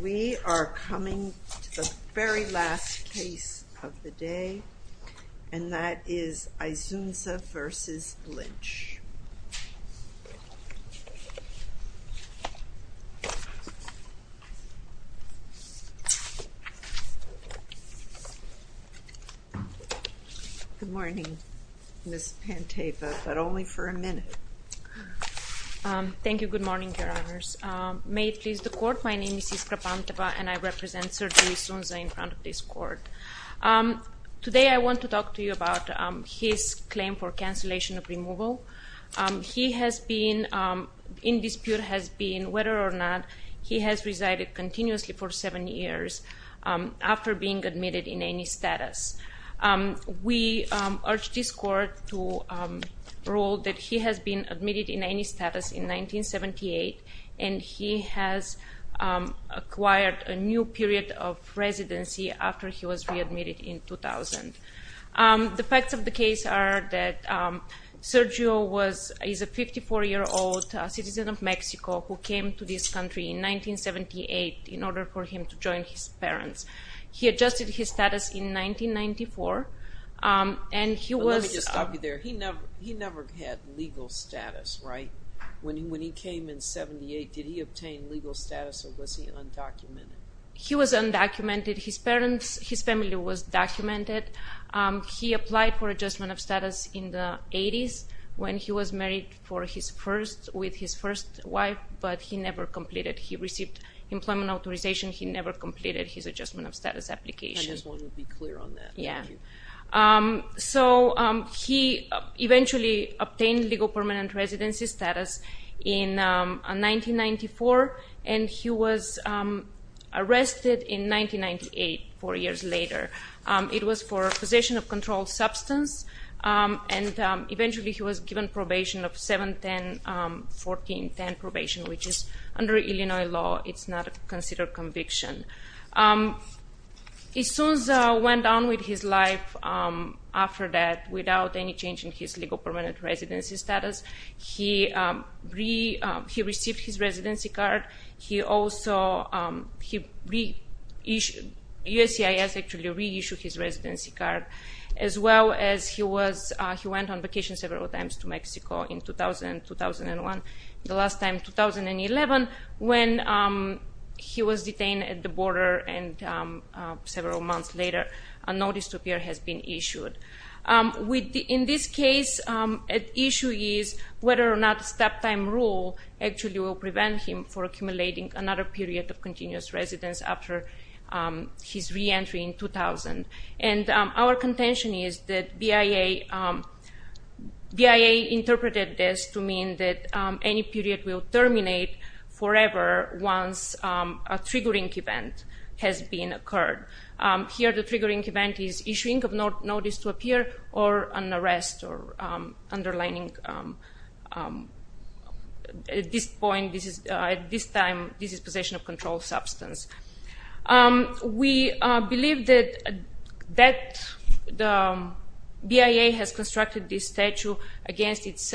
We are coming to the very last case of the day, and that is Isunza v. Lynch. Good morning, Ms. Panteva, but only for a minute. Thank you. Good morning, Your Honors. May it please the Court, my name is Iskra Panteva, and I represent Sir Julius Isunza in front of this Court. Today I want to talk to you about his claim for cancellation of removal. He has been in dispute has been whether or not he has resided continuously for seven years after being admitted in any status. We urge this Court to rule that he has been admitted in any status in 1978, and he has acquired a new period of residency after he was readmitted in 2000. The facts of the case are that Sergio is a 54-year-old citizen of Mexico who came to this country in 1978 in order for him to join his parents. He adjusted his status in 1994, and he was... Let me just stop you there. He never had legal status, right? When he came in 1978, did he obtain legal status, or was he undocumented? He was undocumented. His family was documented. He applied for adjustment of status in the 80s when he was married with his first wife, but he never completed. He received employment authorization. He never completed his adjustment of status application. I just want to be clear on that. Thank you. He eventually obtained legal permanent residency status in 1994, and he was arrested in 1998, four years later. It was for possession of controlled substance, and eventually he was given probation of 7, 10, 14, 10 probation, which is under Illinois law. It's not considered conviction. As soon as he went on with his life after that, without any change in his legal permanent residency status, he received his residency card. USCIS actually reissued his residency card, as well as he went on vacation several times to Mexico in 2000 and 2001. The last time, 2011, when he was detained at the border, and several months later, a notice to appear has been issued. In this case, the issue is whether or not step-time rule actually will prevent him from accumulating another period of continuous residence after his reentry in 2000. Our contention is that BIA interpreted this to mean that any period will terminate forever once a triggering event has occurred. Here, the triggering event is issuing a notice to appear or an arrest, underlining at this point, at this time, this is possession of controlled substance. We believe that BIA has constructed this statute against its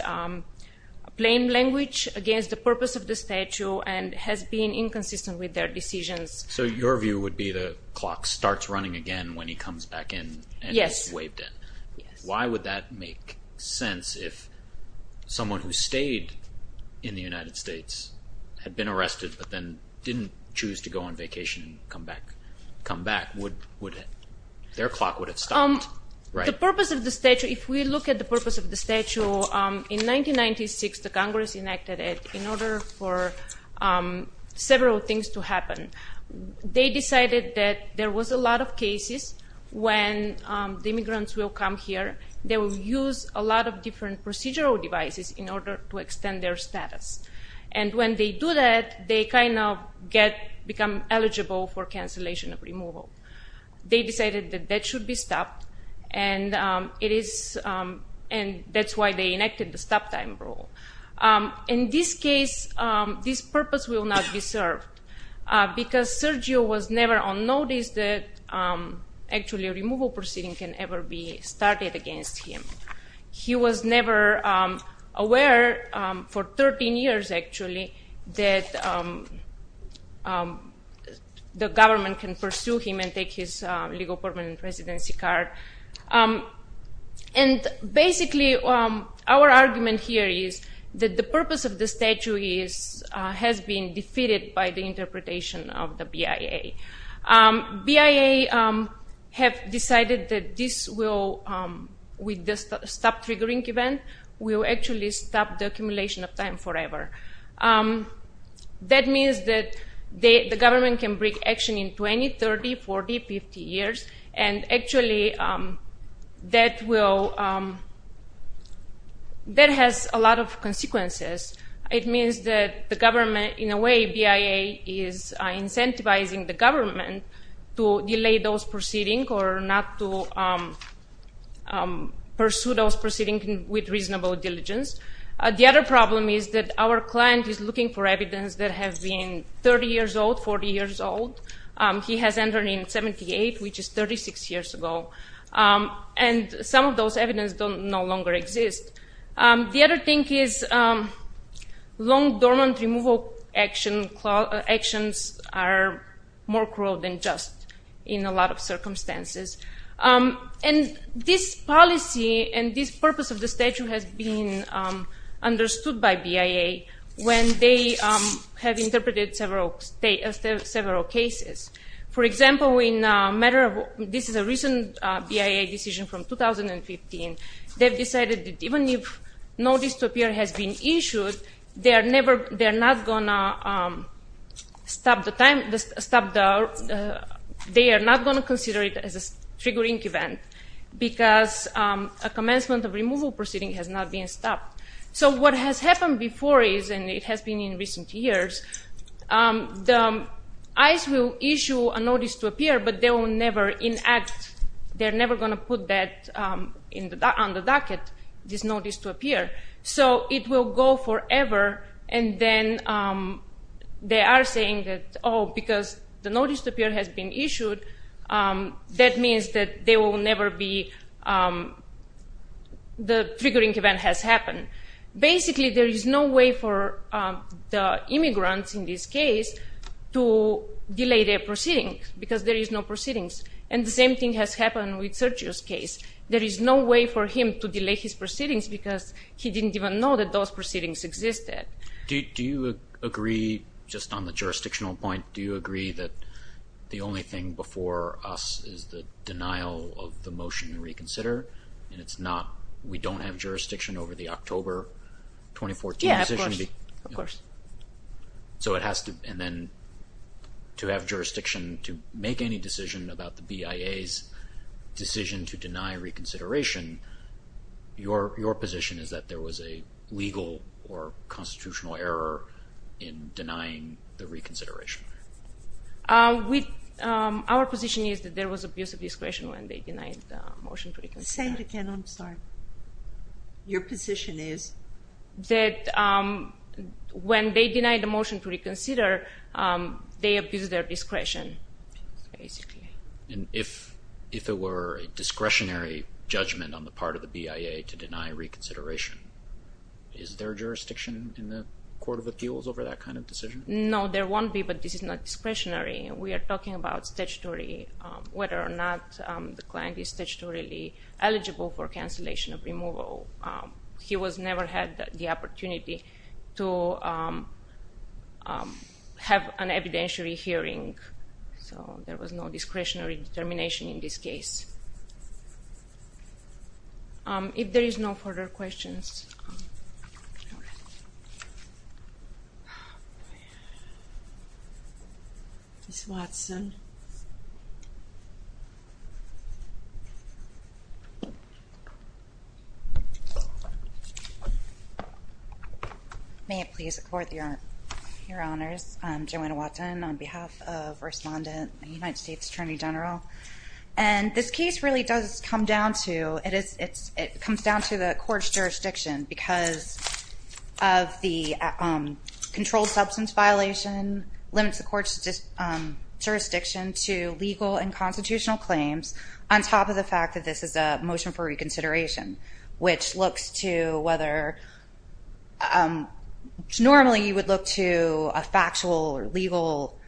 plain language, against the purpose of the statute, and has been inconsistent with their decisions. So your view would be the clock starts running again when he comes back in and is waived in? Yes. Why would that make sense if someone who stayed in the United States had been arrested but then didn't choose to go on vacation and come back? Their clock would have stopped, right? If we look at the purpose of the statute, in 1996, the Congress enacted it in order for several things to happen. They decided that there was a lot of cases when the immigrants will come here. They will use a lot of different procedural devices in order to extend their status. And when they do that, they kind of become eligible for cancellation of removal. They decided that that should be stopped, and that's why they enacted the stop time rule. In this case, this purpose will not be served, because Sergio was never on notice that actually a removal proceeding can ever be started against him. He was never aware, for 13 years actually, that the government can pursue him and take his legal permanent residency card. And basically, our argument here is that the purpose of the statute has been defeated by the interpretation of the BIA. BIA has decided that this will, with the stop triggering event, will actually stop the accumulation of time forever. That means that the government can break action in 20, 30, 40, 50 years, and actually that has a lot of consequences. It means that the government, in a way, BIA is incentivizing the government to delay those proceedings or not to pursue those proceedings with reasonable diligence. The other problem is that our client is looking for evidence that have been 30 years old, 40 years old. He has entered in 78, which is 36 years ago. And some of those evidence no longer exist. The other thing is long dormant removal actions are more cruel than just in a lot of circumstances. And this policy and this purpose of the statute has been understood by BIA when they have interpreted several cases. For example, this is a recent BIA decision from 2015. They've decided that even if no dystopia has been issued, they are not going to consider it as a triggering event because a commencement of removal proceeding has not been stopped. So what has happened before is, and it has been in recent years, ICE will issue a notice to appear, but they will never enact, they're never going to put that on the docket, this notice to appear. So it will go forever, and then they are saying that, oh, because the notice to appear has been issued, that means that they will never be, the triggering event has happened. Basically, there is no way for the immigrants in this case to delay their proceedings because there is no proceedings. And the same thing has happened with Sergio's case. There is no way for him to delay his proceedings because he didn't even know that those proceedings existed. Do you agree, just on the jurisdictional point, do you agree that the only thing before us is the denial of the motion to reconsider, and it's not, we don't have jurisdiction over the October 2014 decision? Yeah, of course. So it has to, and then to have jurisdiction to make any decision about the BIA's decision to deny reconsideration, your position is that there was a legal or constitutional error in denying the reconsideration? Our position is that there was abuse of discretion when they denied the motion to reconsider. Say it again, I'm sorry. Your position is? That when they denied the motion to reconsider, they abused their discretion, basically. And if it were a discretionary judgment on the part of the BIA to deny reconsideration, is there jurisdiction in the Court of Appeals over that kind of decision? No, there won't be, but this is not discretionary. We are talking about statutory, whether or not the client is statutorily eligible for cancellation of removal. So he was never had the opportunity to have an evidentiary hearing. So there was no discretionary determination in this case. If there is no further questions. Ms. Watson. May it please the Court, Your Honors. I'm Joanna Watson on behalf of respondent, the United States Attorney General. And this case really does come down to, it comes down to the court's jurisdiction because of the controlled substance violation, limits the court's jurisdiction to legal and constitutional claims, on top of the fact that this is a motion for reconsideration, which looks to whether, normally you would look to a factual or legal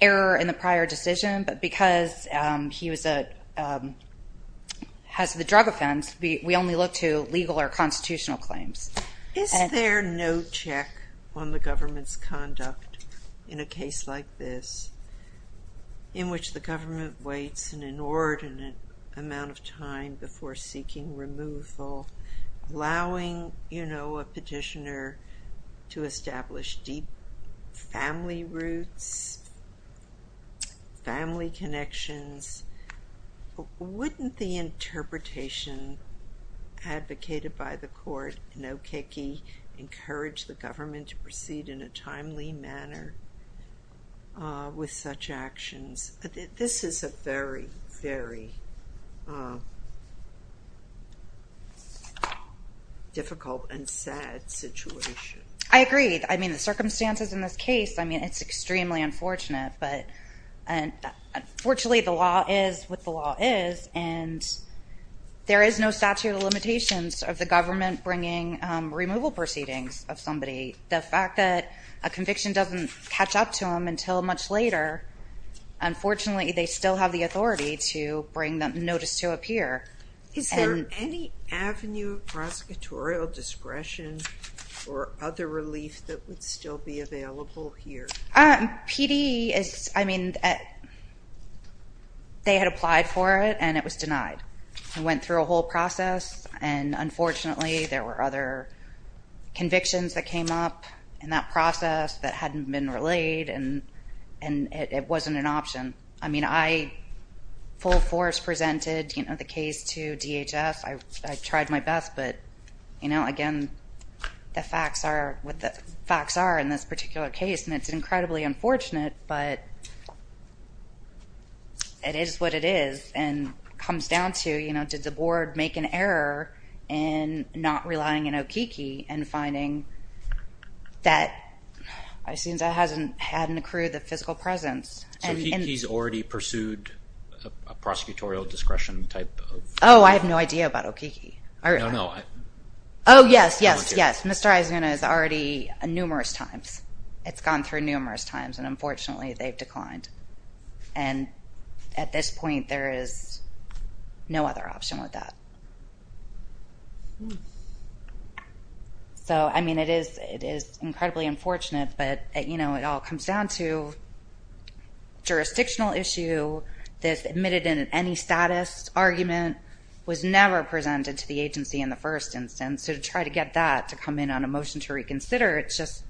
error in the prior decision, but because he was a, has the drug offense, we only look to legal or constitutional claims. Is there no check on the government's conduct in a case like this, in which the government waits an inordinate amount of time before seeking removal, allowing, you know, a petitioner to establish deep family roots, family connections? Wouldn't the interpretation advocated by the court in Okeke encourage the government to proceed in a timely manner with such actions? This is a very, very difficult and sad situation. I agree. I mean, the circumstances in this case, I mean, it's extremely unfortunate. But unfortunately, the law is what the law is, and there is no statute of limitations of the government bringing removal proceedings of somebody. The fact that a conviction doesn't catch up to them until much later, unfortunately, they still have the authority to bring the notice to appear. Is there any avenue of prosecutorial discretion or other relief that would still be available here? PD is, I mean, they had applied for it, and it was denied. It went through a whole process, and unfortunately, there were other convictions that came up in that process that hadn't been relayed, and it wasn't an option. I mean, I full force presented, you know, the case to DHS. I tried my best, but, you know, again, the facts are what the facts are in this particular case, and it's incredibly unfortunate. But it is what it is and comes down to, you know, did the board make an error in not relying on Okeke and finding that it seems it hasn't had an accrued physical presence. So Okeke's already pursued a prosecutorial discretion type of? Oh, I have no idea about Okeke. No, no. Oh, yes, yes, yes. Mr. Aizuna has already numerous times. It's gone through numerous times, and unfortunately, they've declined. And at this point, there is no other option with that. So, I mean, it is incredibly unfortunate, but, you know, it all comes down to jurisdictional issue. This admitted in any status argument was never presented to the agency in the first instance. So to try to get that to come in on a motion to reconsider, it's just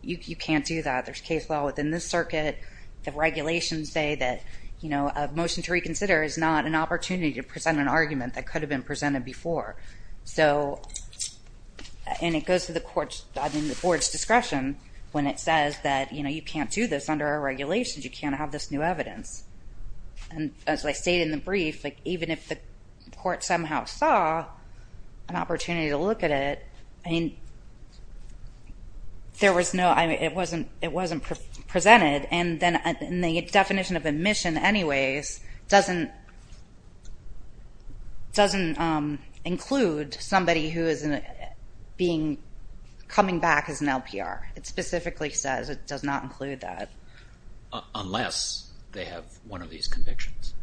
you can't do that. There's case law within this circuit. The regulations say that, you know, a motion to reconsider is not an opportunity to present an argument that could have been presented before. So, and it goes to the board's discretion when it says that, you know, you can't do this under our regulations. You can't have this new evidence. And as I stated in the brief, like, even if the court somehow saw an opportunity to look at it, I mean, there was no, I mean, it wasn't presented. And then the definition of admission anyways doesn't include somebody who is being coming back as an LPR. It specifically says it does not include that. Unless they have one of these convictions.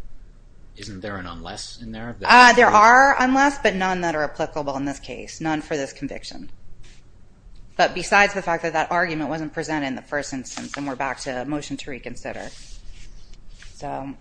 Isn't there an unless in there? There are unless, but none that are applicable in this case. None for this conviction. But besides the fact that that argument wasn't presented in the first instance, and we're back to a motion to reconsider. So,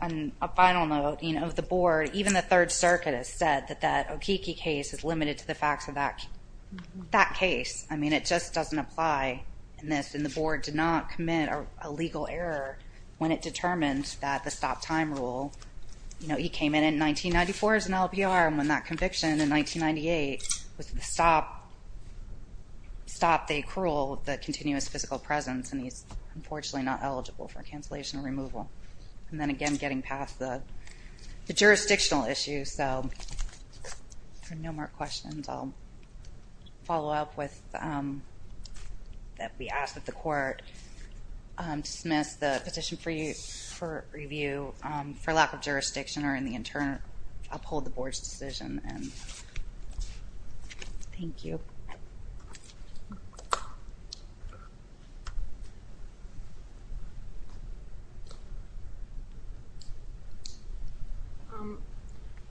on a final note, you know, the board, even the Third Circuit has said that that Okeke case is limited to the facts of that case. I mean, it just doesn't apply in this. And the board did not commit a legal error when it determined that the stop time rule, you know, he came in in 1994 as an LPR. And when that conviction in 1998 was the stop, stop the accrual, the continuous physical presence. And he's unfortunately not eligible for cancellation or removal. And then again, getting past the jurisdictional issues. So, if there are no more questions, I'll follow up with that we asked that the court dismiss the petition for review for lack of jurisdiction or in the internal. Uphold the board's decision. Thank you.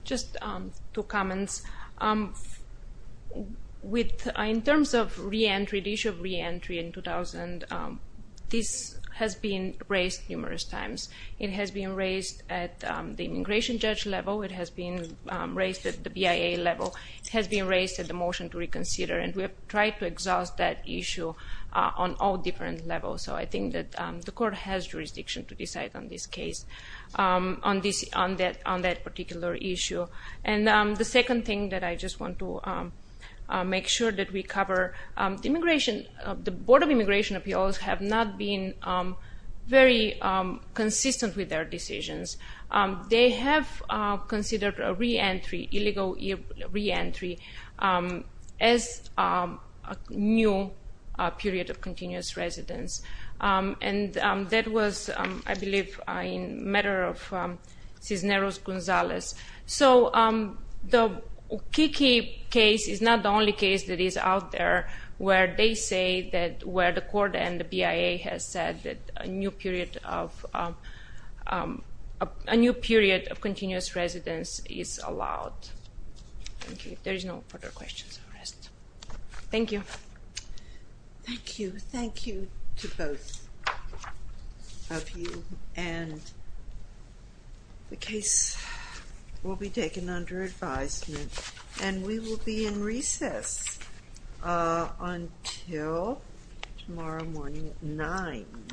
Just two comments. In terms of reentry, the issue of reentry in 2000, this has been raised numerous times. It has been raised at the immigration judge level. It has been raised at the BIA level. It has been raised at the motion to reconsider. And we have tried to exhaust that issue on all different levels. So, I think that the court has jurisdiction to decide on this case, on that particular issue. And the second thing that I just want to make sure that we cover, the immigration, the Board of Immigration Appeals have not been very consistent with their decisions. They have considered a reentry, illegal reentry, as a new period of continuous residence. And that was, I believe, a matter of Cisneros Gonzalez. So, the Kiki case is not the only case that is out there where they say that where the court and the BIA has said that a new period of continuous residence is allowed. Thank you. If there is no further questions, I'll rest. Thank you. Thank you. Thank you to both of you. And the case will be taken under advisement. And we will be in recess until tomorrow morning at 9.